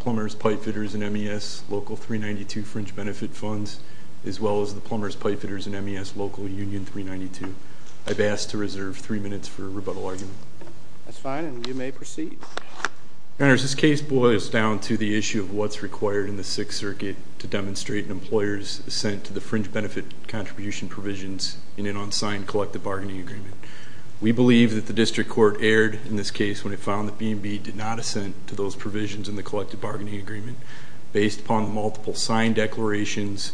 Plumbers, Pipefitters, and MES Local 392 Fringe Benefit funds as well as the Plumbers, Pipefitters, and MES Local Union 392. I've asked to reserve three minutes for rebuttal argument. That's fine, and you may proceed. Your Honors, this case boils down to the issue of what's required in the Sixth Circuit to demonstrate an employer's assent to the fringe benefit contribution provisions in an unsigned collective bargaining agreement. We believe that the district court erred in this case when it found that B and B did not assent to those provisions in the collective bargaining agreement. Based upon multiple signed declarations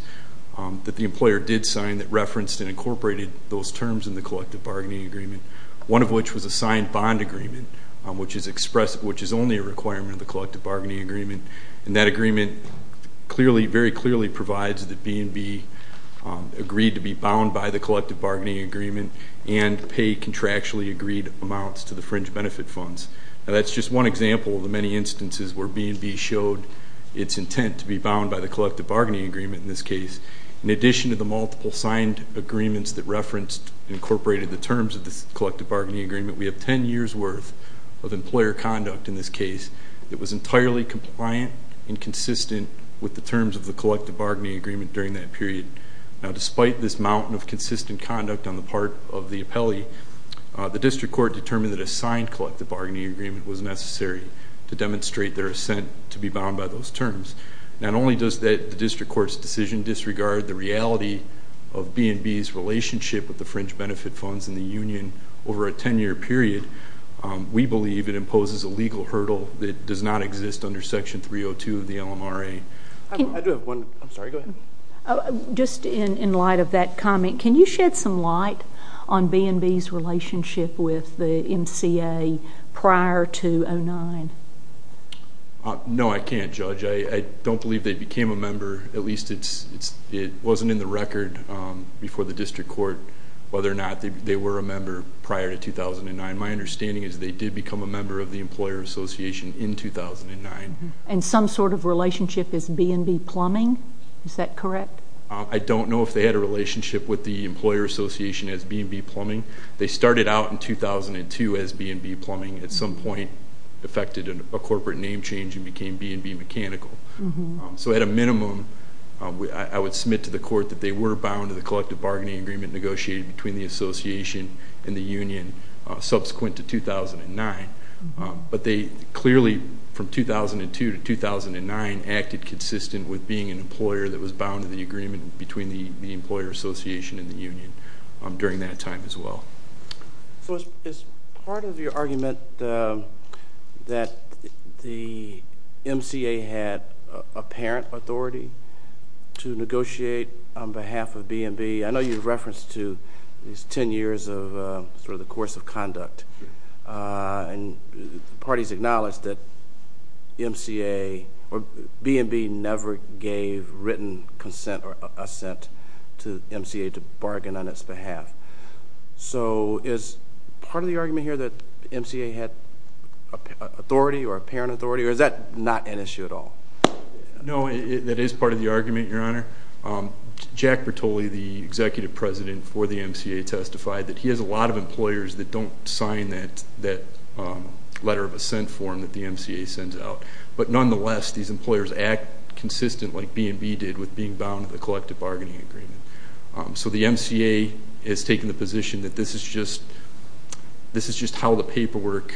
that the employer did sign that referenced and incorporated those terms in the collective bargaining agreement, one of which was a signed bond agreement, which is only a requirement of the collective bargaining agreement. And that agreement very clearly provides that B and B agreed to be bound by the collective bargaining agreement and pay contractually agreed amounts to the fringe benefit funds. Now, that's just one example of the many instances where B and B showed its intent to be bound by the collective bargaining agreement in this case. In addition to the multiple signed agreements that referenced and incorporated the terms of the collective bargaining agreement, we have 10 years' worth of employer conduct in this case that was entirely compliant and consistent with the terms of the collective bargaining agreement during that period. Now, despite this mountain of consistent conduct on the part of the appellee, the district court determined that a signed collective bargaining agreement was necessary to demonstrate their assent to be bound by those terms. Not only does the district court's decision disregard the reality of B and B's relationship with the fringe benefit funds in the union over a 10-year period, we believe it imposes a legal hurdle that does not exist under Section 302 of the LMRA. I do have one. I'm sorry. Go ahead. Just in light of that comment, can you shed some light on B and B's relationship with the MCA prior to 2009? No, I can't, Judge. I don't believe they became a member. At least it wasn't in the record before the district court whether or not they were a member prior to 2009. My understanding is they did become a member of the Employer Association in 2009. And some sort of relationship as B and B Plumbing? Is that correct? I don't know if they had a relationship with the Employer Association as B and B Plumbing. They started out in 2002 as B and B Plumbing, at some point affected a corporate name change and became B and B Mechanical. So at a minimum, I would submit to the court that they were bound to the collective bargaining agreement negotiated between the association and the union subsequent to 2009. But they clearly, from 2002 to 2009, acted consistent with being an employer that was bound to the agreement between the Employer Association and the union during that time as well. So is part of your argument that the MCA had apparent authority to negotiate on behalf of B and B? I know you referenced to these 10 years of sort of the course of conduct. And the parties acknowledged that MCA or B and B never gave written consent or assent to MCA to bargain on its behalf. So is part of the argument here that MCA had authority or apparent authority, or is that not an issue at all? No, that is part of the argument, Your Honor. Jack Bertoli, the executive president for the MCA, testified that he has a lot of employers that don't sign that letter of assent form that the MCA sends out. But nonetheless, these employers act consistent, like B and B did, with being bound to the collective bargaining agreement. So the MCA has taken the position that this is just how the paperwork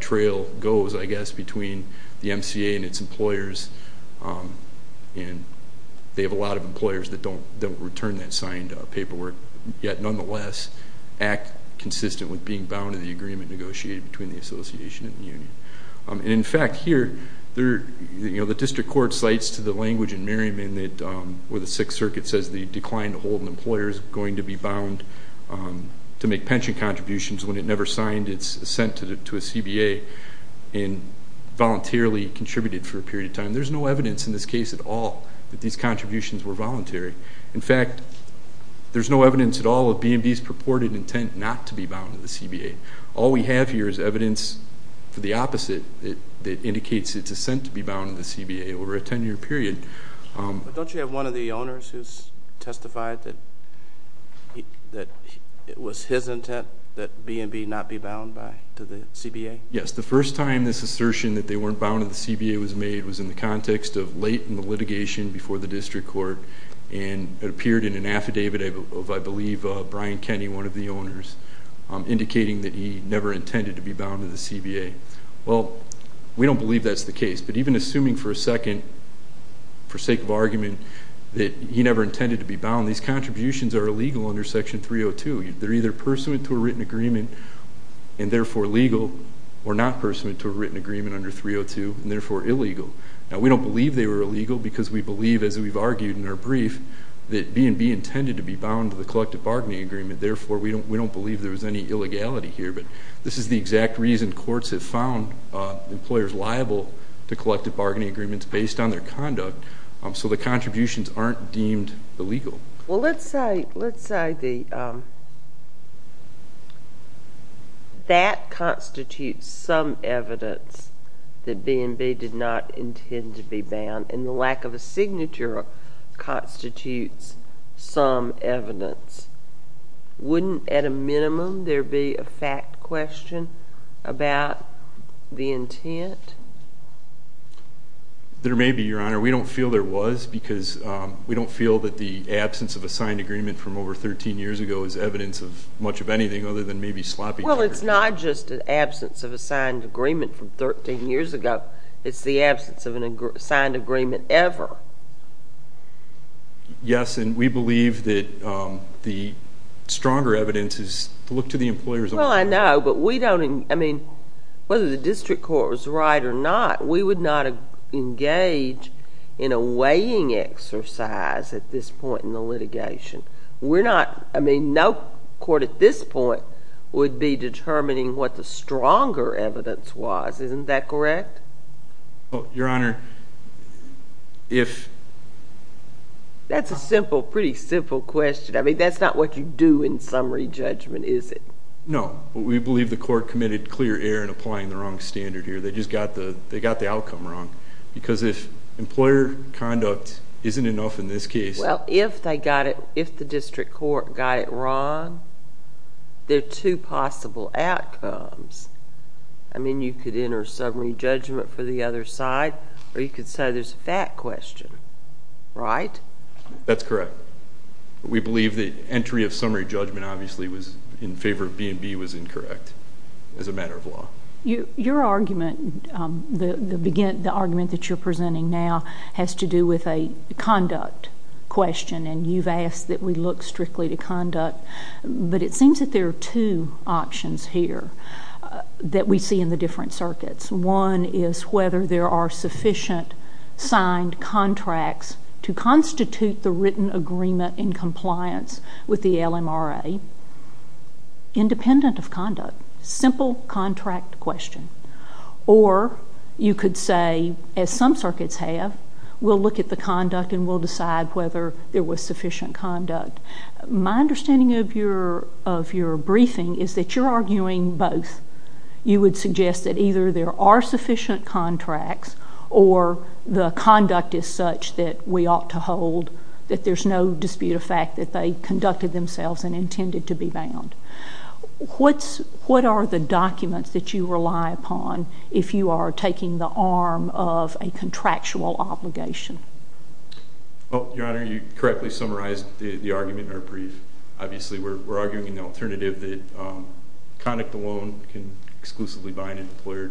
trail goes, I guess, between the MCA and its employers. And they have a lot of employers that don't return that signed paperwork. Yet, nonetheless, act consistent with being bound to the agreement negotiated between the association and the union. And, in fact, here, the district court cites to the language in Merriman where the Sixth Circuit says the decline to hold an employer is going to be bound to make pension contributions when it never signed its assent to a CBA and voluntarily contributed for a period of time. There's no evidence in this case at all that these contributions were voluntary. In fact, there's no evidence at all of B and B's purported intent not to be bound to the CBA. All we have here is evidence for the opposite that indicates its assent to be bound to the CBA over a 10-year period. Don't you have one of the owners who's testified that it was his intent that B and B not be bound to the CBA? Yes, the first time this assertion that they weren't bound to the CBA was made was in the context of late in the litigation before the district court, and it appeared in an affidavit of, I believe, Brian Kenney, one of the owners, indicating that he never intended to be bound to the CBA. Well, we don't believe that's the case, but even assuming for a second, for sake of argument, that he never intended to be bound, these contributions are illegal under Section 302. They're either pursuant to a written agreement and therefore legal or not pursuant to a written agreement under 302 and therefore illegal. Now, we don't believe they were illegal because we believe, as we've argued in our brief, that B and B intended to be bound to the collective bargaining agreement. Therefore, we don't believe there was any illegality here, but this is the exact reason courts have found employers liable to collective bargaining agreements based on their conduct, so the contributions aren't deemed illegal. Well, let's say that constitutes some evidence that B and B did not intend to be bound, and the lack of a signature constitutes some evidence. Wouldn't, at a minimum, there be a fact question about the intent? There may be, Your Honor. We don't feel there was because we don't feel that the absence of a signed agreement from over 13 years ago is evidence of much of anything other than maybe sloppy triggers. Well, it's not just an absence of a signed agreement from 13 years ago. It's the absence of a signed agreement ever. Yes, and we believe that the stronger evidence is to look to the employer's own record. Well, I know, but we don't, I mean, whether the district court was right or not, we would not engage in a weighing exercise at this point in the litigation. We're not, I mean, no court at this point would be determining what the stronger evidence was. Isn't that correct? Your Honor, if... That's a simple, pretty simple question. I mean, that's not what you do in summary judgment, is it? No, but we believe the court committed clear error in applying the wrong standard here. They just got the outcome wrong. Because if employer conduct isn't enough in this case... Well, if they got it, if the district court got it wrong, there are two possible outcomes. I mean, you could enter summary judgment for the other side, or you could say there's a fact question, right? That's correct. We believe the entry of summary judgment obviously was in favor of B&B was incorrect as a matter of law. Your argument, the argument that you're presenting now has to do with a conduct question, and you've asked that we look strictly to conduct, but it seems that there are two options here that we see in the different circuits. One is whether there are sufficient signed contracts to constitute the written agreement in compliance with the LMRA, independent of conduct, simple contract question. Or you could say, as some circuits have, we'll look at the conduct and we'll decide whether there was sufficient conduct. My understanding of your briefing is that you're arguing both. You would suggest that either there are sufficient contracts or the conduct is such that we ought to hold, that there's no dispute of fact that they conducted themselves and intended to be bound. What are the documents that you rely upon if you are taking the arm of a contractual obligation? Well, Your Honor, you correctly summarized the argument in our brief. Obviously, we're arguing an alternative that conduct alone can exclusively bind and deploy,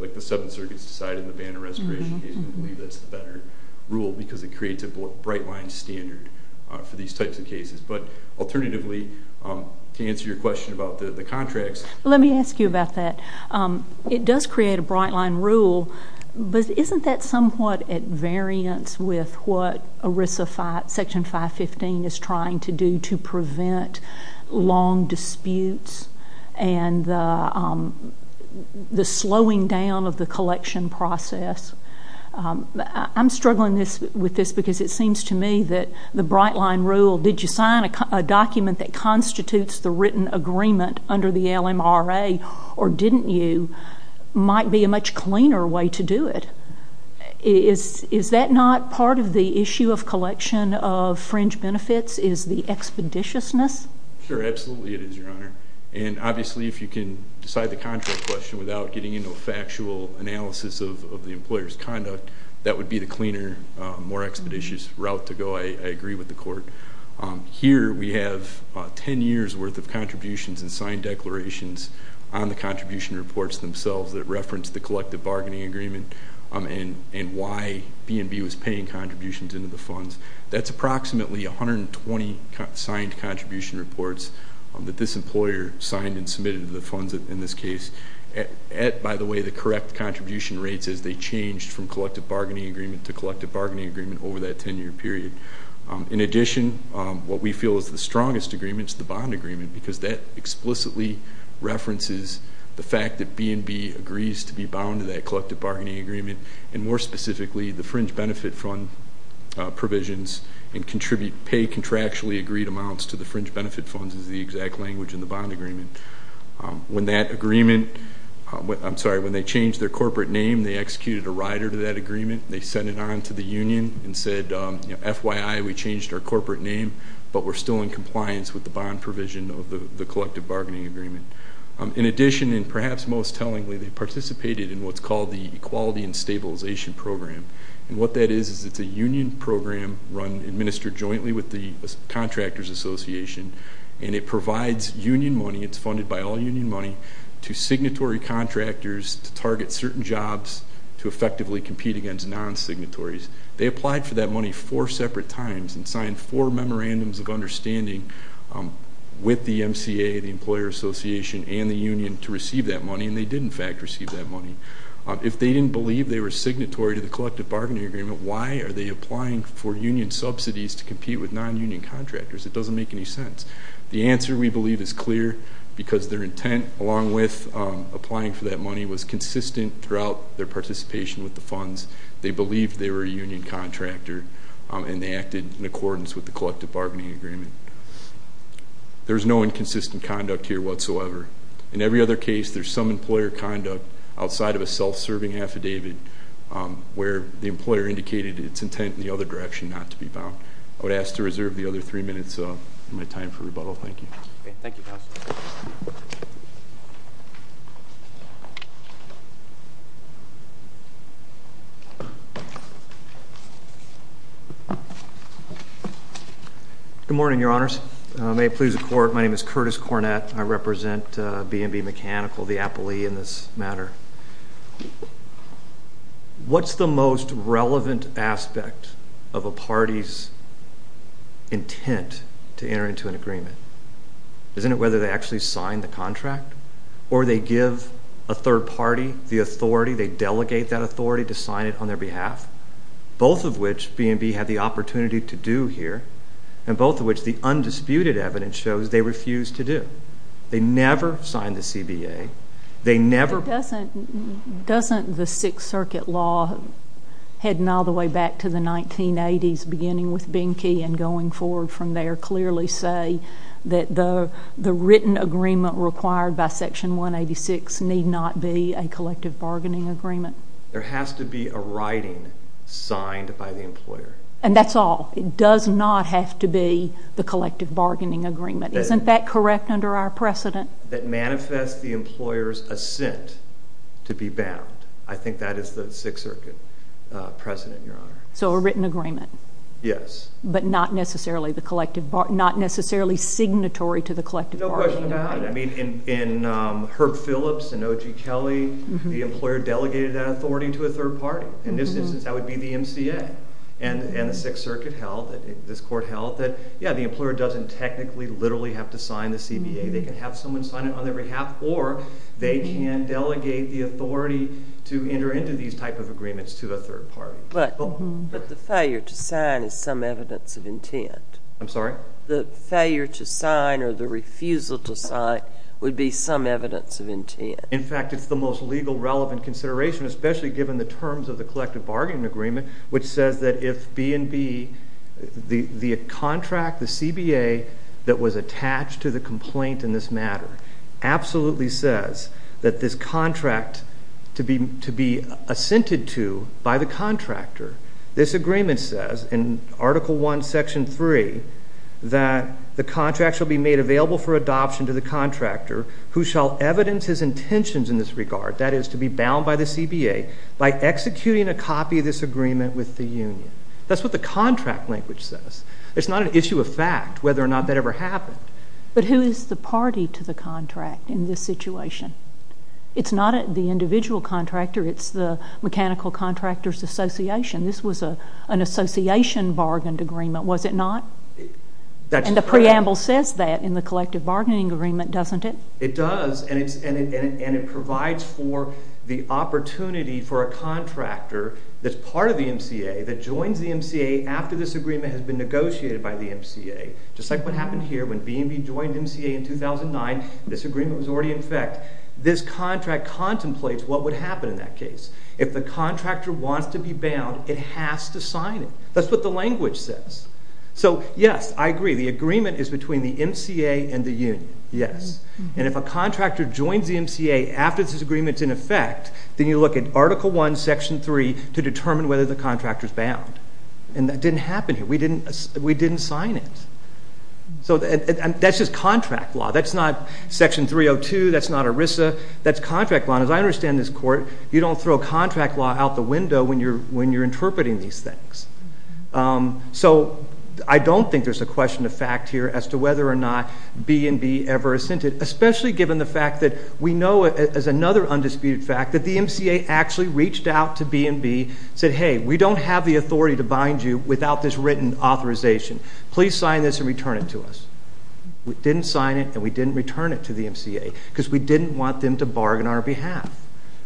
like the Seventh Circuit's decided in the ban on restoration case, we believe that's the better rule because it creates a bright-line standard for these types of cases. But alternatively, to answer your question about the contracts. Let me ask you about that. It does create a bright-line rule, but isn't that somewhat at variance with what ERISA Section 515 is trying to do to prevent long disputes and the slowing down of the collection process? I'm struggling with this because it seems to me that the bright-line rule, did you sign a document that constitutes the written agreement under the LMRA or didn't you, might be a much cleaner way to do it. Is that not part of the issue of collection of fringe benefits is the expeditiousness? Sure, absolutely it is, Your Honor. And obviously, if you can decide the contract question without getting into a factual analysis of the employer's conduct, that would be the cleaner, more expeditious route to go. I agree with the Court. Here we have 10 years' worth of contributions and signed declarations on the contribution reports themselves that reference the collective bargaining agreement and why B&B was paying contributions into the funds. That's approximately 120 signed contribution reports that this employer signed and submitted to the funds in this case. By the way, the correct contribution rates is they changed from collective bargaining agreement to collective bargaining agreement over that 10-year period. In addition, what we feel is the strongest agreement is the bond agreement because that explicitly references the fact that B&B agrees to be bound to that collective bargaining agreement and, more specifically, the fringe benefit fund provisions and contribute paid contractually agreed amounts to the fringe benefit funds is the exact language in the bond agreement. When that agreement, I'm sorry, when they changed their corporate name, they executed a rider to that agreement. They sent it on to the union and said, you know, FYI, we changed our corporate name, but we're still in compliance with the bond provision of the collective bargaining agreement. In addition, and perhaps most tellingly, they participated in what's called the Equality and Stabilization Program, and what that is is it's a union program run, administered jointly with the Contractors Association, and it provides union money. It's funded by all union money to signatory contractors to target certain jobs to effectively compete against non-signatories. They applied for that money four separate times and signed four memorandums of understanding with the MCA, the Employer Association, and the union to receive that money, and they did, in fact, receive that money. If they didn't believe they were signatory to the collective bargaining agreement, why are they applying for union subsidies to compete with non-union contractors? It doesn't make any sense. The answer, we believe, is clear because their intent, along with applying for that money, was consistent throughout their participation with the funds. They believed they were a union contractor, and they acted in accordance with the collective bargaining agreement. There's no inconsistent conduct here whatsoever. In every other case, there's some employer conduct outside of a self-serving affidavit where the employer indicated its intent in the other direction not to be bound. I would ask to reserve the other three minutes of my time for rebuttal. Thank you. Thank you, Counsel. Good morning, Your Honors. May it please the Court, my name is Curtis Cornett. I represent B&B Mechanical, the appellee in this matter. What's the most relevant aspect of a party's intent to enter into an agreement? Isn't it whether they actually sign the contract or they give a third party the authority, they delegate that authority to sign it on their behalf, both of which B&B had the opportunity to do here and both of which the undisputed evidence shows they refused to do? They never signed the CBA. Doesn't the Sixth Circuit law heading all the way back to the 1980s, beginning with Binky and going forward from there, clearly say that the written agreement required by Section 186 need not be a collective bargaining agreement? There has to be a writing signed by the employer. And that's all? It does not have to be the collective bargaining agreement? Isn't that correct under our precedent? That manifests the employer's assent to be bound. I think that is the Sixth Circuit precedent, Your Honor. So a written agreement? Yes. But not necessarily signatory to the collective bargaining agreement? No question about it. I mean, in Herb Phillips and O.G. Kelly, the employer delegated that authority to a third party. In this instance, that would be the MCA. And the Sixth Circuit held, this Court held, that, yeah, the employer doesn't technically literally have to sign the CBA. They can have someone sign it on their behalf, or they can delegate the authority to enter into these type of agreements to a third party. But the failure to sign is some evidence of intent. I'm sorry? The failure to sign or the refusal to sign would be some evidence of intent. In fact, it's the most legal relevant consideration, especially given the terms of the collective bargaining agreement, which says that if B&B, the contract, the CBA, that was attached to the complaint in this matter, absolutely says that this contract to be assented to by the contractor, this agreement says in Article I, Section 3, that the contract shall be made available for adoption to the contractor who shall evidence his intentions in this regard, that is, to be bound by the CBA, by executing a copy of this agreement with the union. That's what the contract language says. It's not an issue of fact whether or not that ever happened. But who is the party to the contract in this situation? It's not the individual contractor. It's the mechanical contractor's association. This was an association-bargained agreement, was it not? And the preamble says that in the collective bargaining agreement, doesn't it? It does, and it provides for the opportunity for a contractor that's part of the MCA, that joins the MCA after this agreement has been negotiated by the MCA, just like what happened here when B&B joined MCA in 2009. This agreement was already in effect. This contract contemplates what would happen in that case. If the contractor wants to be bound, it has to sign it. That's what the language says. So, yes, I agree. The agreement is between the MCA and the union, yes. And if a contractor joins the MCA after this agreement's in effect, then you look at Article I, Section 3, to determine whether the contractor is bound. And that didn't happen here. We didn't sign it. So that's just contract law. That's not Section 302. That's not ERISA. That's contract law. And as I understand this court, you don't throw contract law out the window when you're interpreting these things. So I don't think there's a question of fact here as to whether or not B&B ever assented, especially given the fact that we know, as another undisputed fact, that the MCA actually reached out to B&B and said, hey, we don't have the authority to bind you without this written authorization. Please sign this and return it to us. We didn't sign it, and we didn't return it to the MCA because we didn't want them to bargain on our behalf.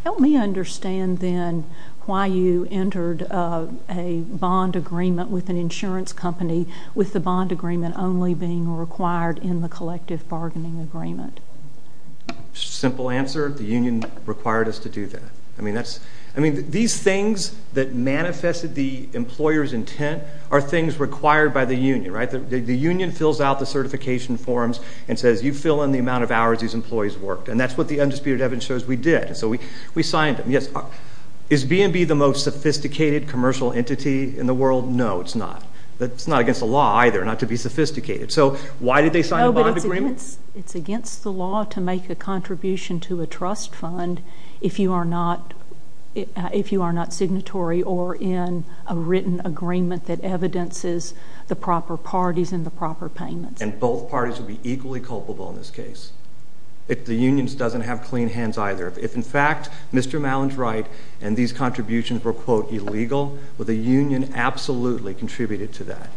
Help me understand, then, why you entered a bond agreement with an insurance company with the bond agreement only being required in the collective bargaining agreement. Simple answer. The union required us to do that. I mean, these things that manifested the employer's intent are things required by the union, right? The union fills out the certification forms and says, you fill in the amount of hours these employees worked, and that's what the undisputed evidence shows we did. So we signed them. Yes. Is B&B the most sophisticated commercial entity in the world? No, it's not. So why did they sign a bond agreement? It's against the law to make a contribution to a trust fund if you are not signatory or in a written agreement that evidences the proper parties and the proper payments. And both parties would be equally culpable in this case. The union doesn't have clean hands either. If, in fact, Mr. Mallon's right and these contributions were, quote, illegal, would the union absolutely contribute to that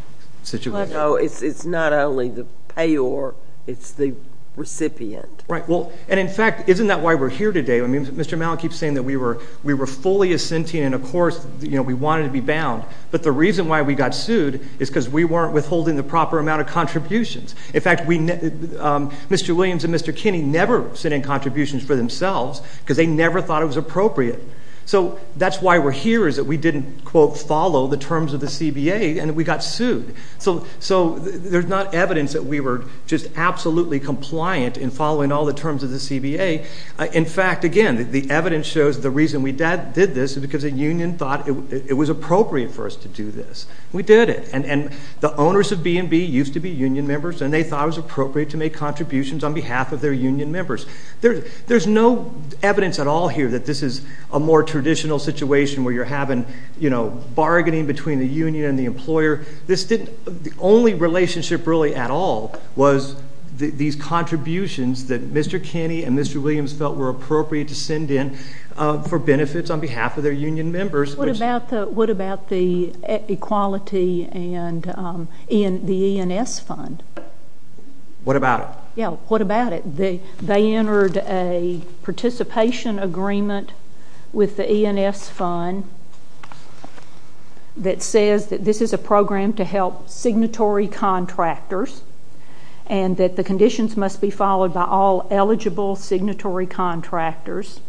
situation? No, it's not only the payor, it's the recipient. Right. And, in fact, isn't that why we're here today? I mean, Mr. Mallon keeps saying that we were fully assentee and, of course, we wanted to be bound, but the reason why we got sued is because we weren't withholding the proper amount of contributions. In fact, Mr. Williams and Mr. Kinney never sent in contributions for themselves because they never thought it was appropriate. So that's why we're here is that we didn't, quote, follow the terms of the CBA and we got sued. So there's not evidence that we were just absolutely compliant in following all the terms of the CBA. In fact, again, the evidence shows the reason we did this is because the union thought it was appropriate for us to do this. We did it. And the owners of B&B used to be union members and they thought it was appropriate to make contributions on behalf of their union members. There's no evidence at all here that this is a more traditional situation where you're having, you know, bargaining between the union and the employer. The only relationship really at all was these contributions that Mr. Kinney and Mr. Williams felt were appropriate to send in for benefits on behalf of their union members. What about the equality and the E&S fund? What about it? Yeah, what about it? They entered a participation agreement with the E&S fund that says that this is a program to help signatory contractors and that the conditions must be followed by all eligible signatory contractors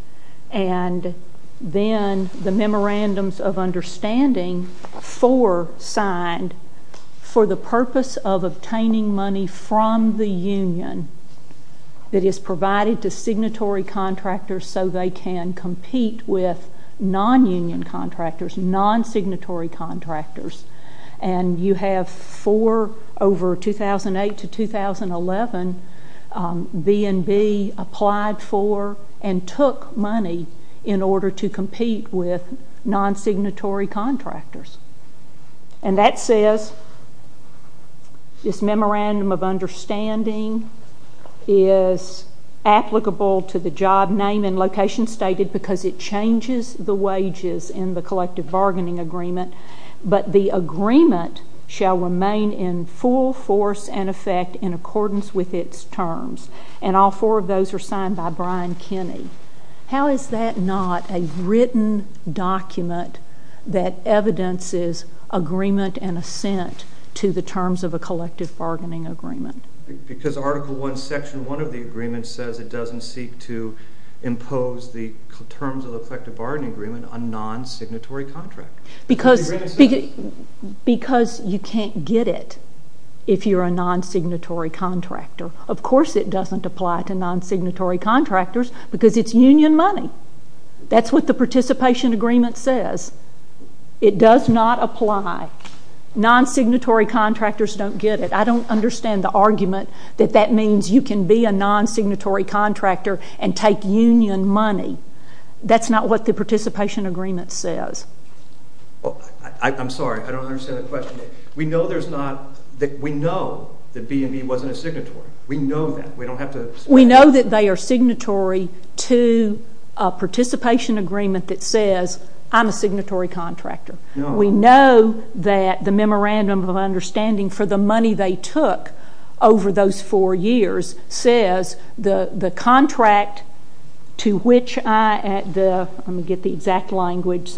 and then the Memorandums of Understanding 4 signed for the purpose of obtaining money from the union that is provided to signatory contractors so they can compete with non-union contractors, non-signatory contractors. And you have four over 2008 to 2011 B&B applied for and took money in order to compete with non-signatory contractors. And that says this Memorandum of Understanding is applicable to the job name and location stated because it changes the wages in the collective bargaining agreement, but the agreement shall remain in full force and effect in accordance with its terms. And all four of those are signed by Brian Kinney. How is that not a written document that evidences agreement and assent to the terms of a collective bargaining agreement? Because Article 1, Section 1 of the agreement says it doesn't seek to impose the terms of the collective bargaining agreement on non-signatory contractors. Because you can't get it if you're a non-signatory contractor. Of course it doesn't apply to non-signatory contractors because it's union money. That's what the participation agreement says. It does not apply. Non-signatory contractors don't get it. I don't understand the argument that that means you can be a non-signatory contractor and take union money. That's not what the participation agreement says. I'm sorry. I don't understand the question. We know there's not, we know that BME wasn't a signatory. We know that. We don't have to say that. We know that they are signatory to a participation agreement that says I'm a signatory contractor. We know that the Memorandum of Understanding for the money they took over those four years says the contract to which I, let me get the exact language,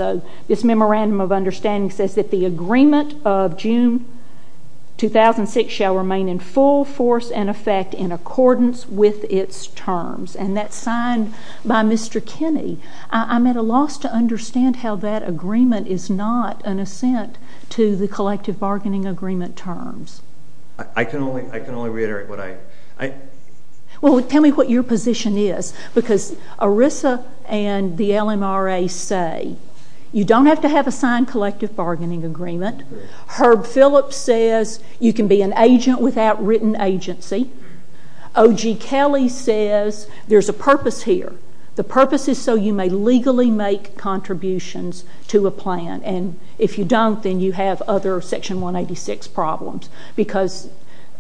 this Memorandum of Understanding says that the agreement of June 2006 shall remain in full force and effect in accordance with its terms. And that's signed by Mr. Kinney. I'm at a loss to understand how that agreement is not an assent to the collective bargaining agreement terms. I can only reiterate what I... Well, tell me what your position is. Because ERISA and the LMRA say you don't have to have a signed collective bargaining agreement. Herb Phillips says you can be an agent without written agency. O.G. Kelly says there's a purpose here. The purpose is so you may legally make contributions to a plan. And if you don't, then you have other Section 186 problems. Because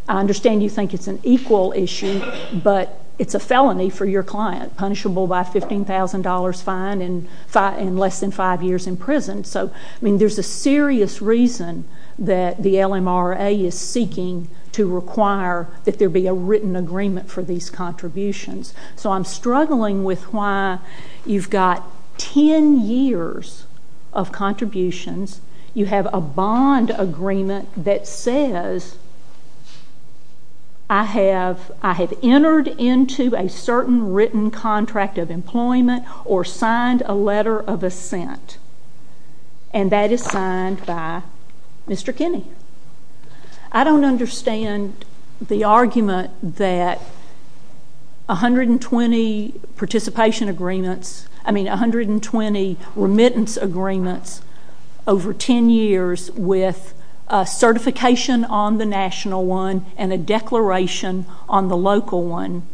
I understand you think it's an equal issue, but it's a felony for your client, punishable by a $15,000 fine and less than five years in prison. So, I mean, there's a serious reason that the LMRA is seeking to require that there be a written agreement for these contributions. So I'm struggling with why you've got ten years of contributions, you have a bond agreement that says, I have entered into a certain written contract of employment or signed a letter of assent. And that is signed by Mr. Kinney. I don't understand the argument that 120 participation agreements, I mean 120 remittance agreements over ten years with a certification on the national one and a declaration on the local one,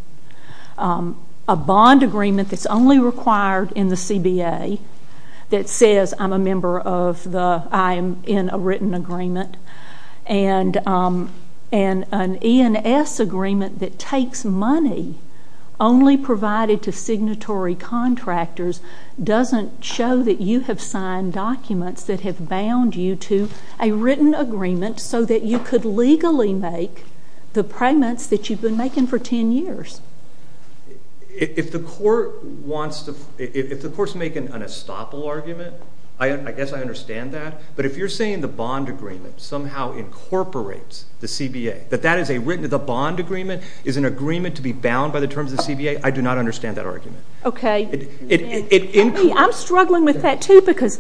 a bond agreement that's only required in the CBA that says I'm in a written agreement and an E&S agreement that takes money only provided to signatory contractors doesn't show that you have signed documents that have bound you to a written agreement so that you could legally make the payments that you've been making for ten years. If the court wants to make an estoppel argument, I guess I understand that. But if you're saying the bond agreement somehow incorporates the CBA, that the bond agreement is an agreement to be bound by the terms of the CBA, I do not understand that argument. I'm struggling with that too because,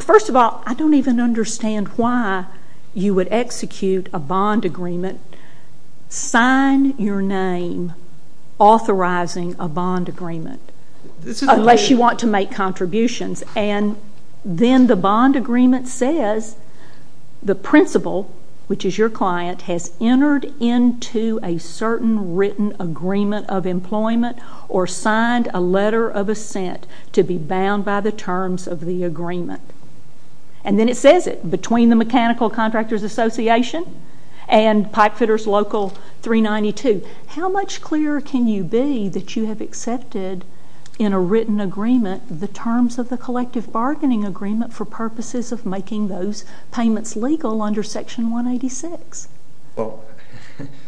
first of all, I don't even understand why you would execute a bond agreement, sign your name authorizing a bond agreement unless you want to make contributions. And then the bond agreement says the principal, which is your client, has entered into a certain written agreement of employment or signed a letter of assent to be bound by the terms of the agreement. And then it says it, between the Mechanical Contractors Association and Pipefitters Local 392. How much clearer can you be that you have accepted in a written agreement the terms of the collective bargaining agreement for purposes of making those payments legal under Section 186? Well,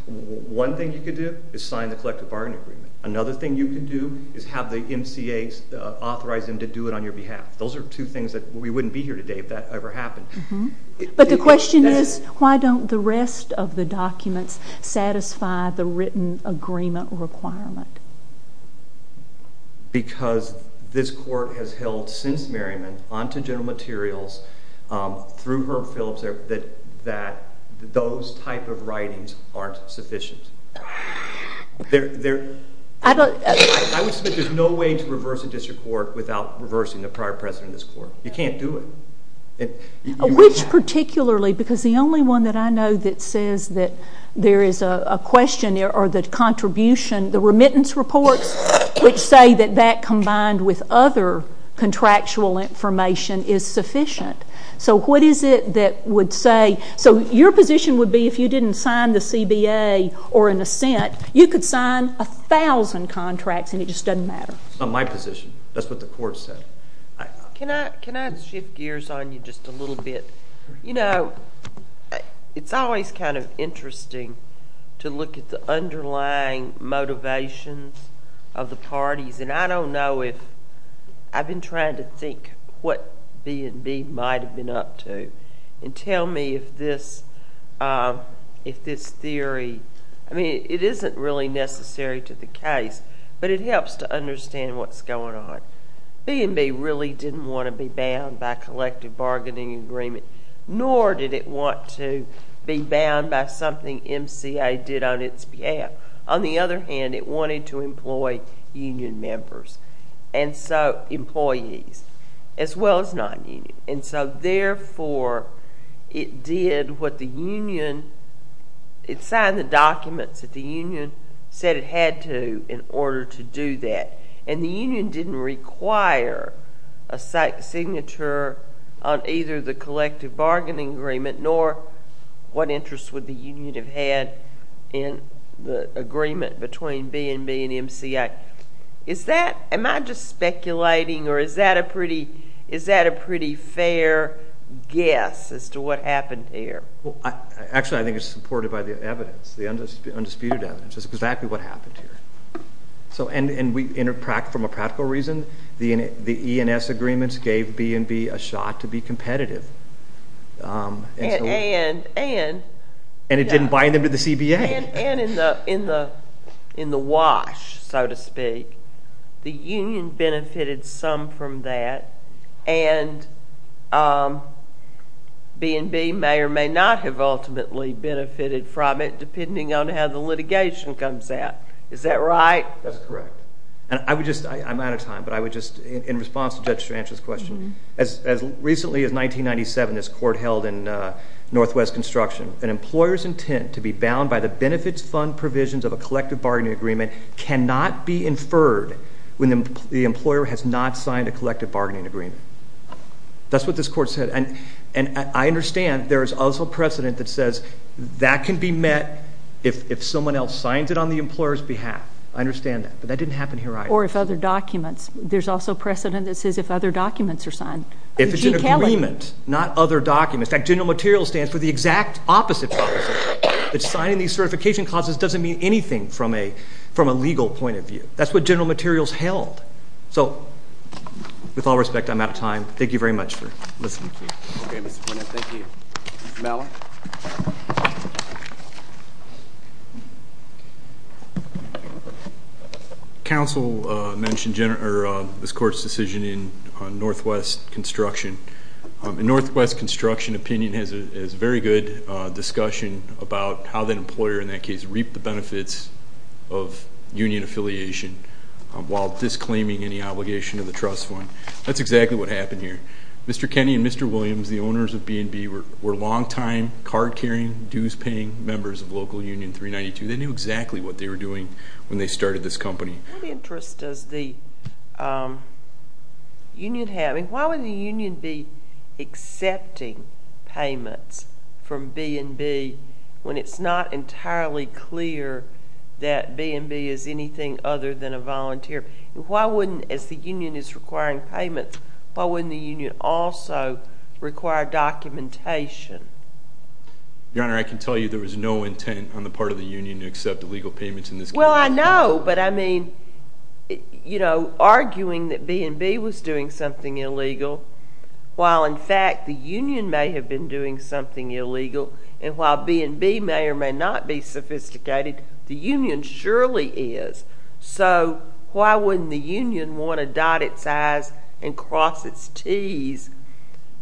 one thing you could do is sign the collective bargaining agreement. Another thing you could do is have the MCAs authorize them to do it on your behalf. Those are two things that we wouldn't be here today if that ever happened. But the question is, why don't the rest of the documents satisfy the written agreement requirement? Because this Court has held since Merriman, onto general materials, through Herb Phillips, that those type of writings aren't sufficient. There's no way to reverse a district court without reversing the prior president of this court. You can't do it. Which particularly, because the only one that I know that says that there is a question there, or the contribution, the remittance reports, which say that that combined with other contractual information is sufficient. So what is it that would say? So your position would be if you didn't sign the CBA or an assent, you could sign 1,000 contracts and it just doesn't matter. That's not my position. That's what the Court said. Can I shift gears on you just a little bit? You know, it's always kind of interesting to look at the underlying motivations of the parties. And I don't know if I've been trying to think what B&B might have been up to and tell me if this theory, I mean, it isn't really necessary to the case, but it helps to understand what's going on. B&B really didn't want to be bound by collective bargaining agreement, nor did it want to be bound by something MCA did on its behalf. On the other hand, it wanted to employ union members, employees, as well as non-union. And so, therefore, it did what the union, it signed the documents that the union said it had to in order to do that. And the union didn't require a signature on either the collective bargaining agreement nor what interest would the union have had in the agreement between B&B and MCA. Am I just speculating, or is that a pretty fair guess as to what happened here? Actually, I think it's supported by the evidence, the undisputed evidence. That's exactly what happened here. And from a practical reason, the E&S agreements gave B&B a shot to be competitive. And? And it didn't bind them to the CBA. And in the wash, so to speak, the union benefited some from that, and B&B may or may not have ultimately benefited from it, depending on how the litigation comes out. Is that right? That's correct. I'm out of time, but I would just, in response to Judge Stranch's question, as recently as 1997, this court held in Northwest Construction that an employer's intent to be bound by the benefits fund provisions of a collective bargaining agreement cannot be inferred when the employer has not signed a collective bargaining agreement. That's what this court said. And I understand there is also precedent that says that can be met if someone else signs it on the employer's behalf. I understand that, but that didn't happen here either. Or if other documents. There's also precedent that says if other documents are signed. If it's an agreement, not other documents. In fact, General Materials stands for the exact opposite. That signing these certification clauses doesn't mean anything from a legal point of view. That's what General Materials held. So with all respect, I'm out of time. Thank you very much for listening to me. Okay, Mr. Plinant. Thank you. Mr. Malin. Counsel mentioned this court's decision in Northwest Construction. And Northwest Construction opinion has very good discussion about how that employer, in that case, reaped the benefits of union affiliation while disclaiming any obligation of the trust fund. That's exactly what happened here. Mr. Kenney and Mr. Williams, the owners of B&B, were long-time card-carrying, dues-paying members of local union 392. They knew exactly what they were doing when they started this company. What interest does the union have? I mean, why would the union be accepting payments from B&B when it's not entirely clear that B&B is anything other than a volunteer? Why wouldn't, as the union is requiring payments, why wouldn't the union also require documentation? Your Honor, I can tell you there was no intent on the part of the union to accept illegal payments in this case. Well, I know, but I mean, you know, arguing that B&B was doing something illegal while, in fact, the union may have been doing something illegal, and while B&B may or may not be sophisticated, the union surely is. So why wouldn't the union want to dot its I's and cross its T's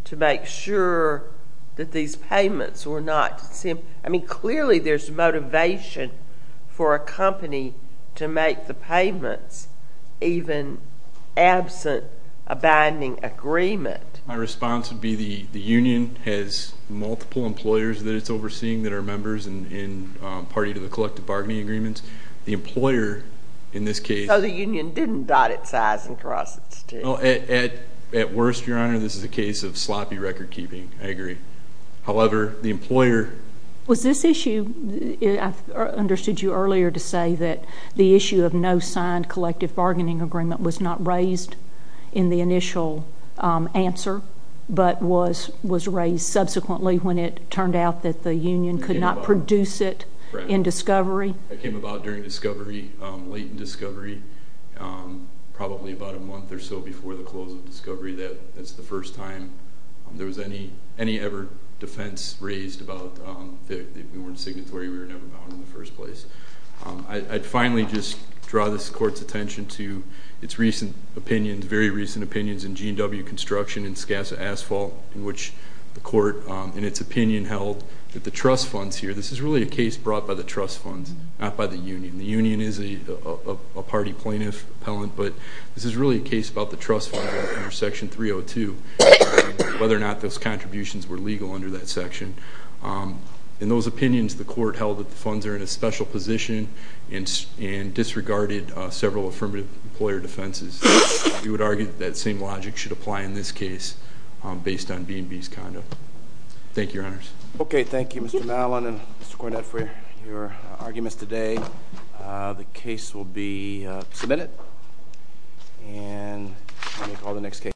to make sure that these payments were not – I mean, clearly there's motivation for a company to make the payments even absent a binding agreement. My response would be the union has multiple employers that it's overseeing that are members and party to the collective bargaining agreements. The employer, in this case – So the union didn't dot its I's and cross its T's. At worst, Your Honor, this is a case of sloppy record-keeping. I agree. However, the employer – Was this issue – I understood you earlier to say that the issue of no signed collective bargaining agreement was not raised in the initial answer, but was raised subsequently when it turned out that the union could not produce it in discovery? It came about during discovery, late in discovery, probably about a month or so before the close of discovery. That's the first time there was any ever defense raised about that we weren't signatory, we were never bound in the first place. I'd finally just draw this Court's attention to its recent opinions, very recent opinions, in G&W Construction and Skassa Asphalt, in which the Court, in its opinion, held that the trust funds here – this is really a case brought by the trust funds, not by the union. The union is a party plaintiff appellant, but this is really a case about the trust fund under Section 302, whether or not those contributions were legal under that section. In those opinions, the Court held that the funds are in a special position and disregarded several affirmative employer defenses. We would argue that that same logic should apply in this case, based on B&B's conduct. Thank you, Your Honors. Okay, thank you, Mr. Mallon and Mr. Cornett, for your arguments today. The case will be submitted, and we'll call the next case.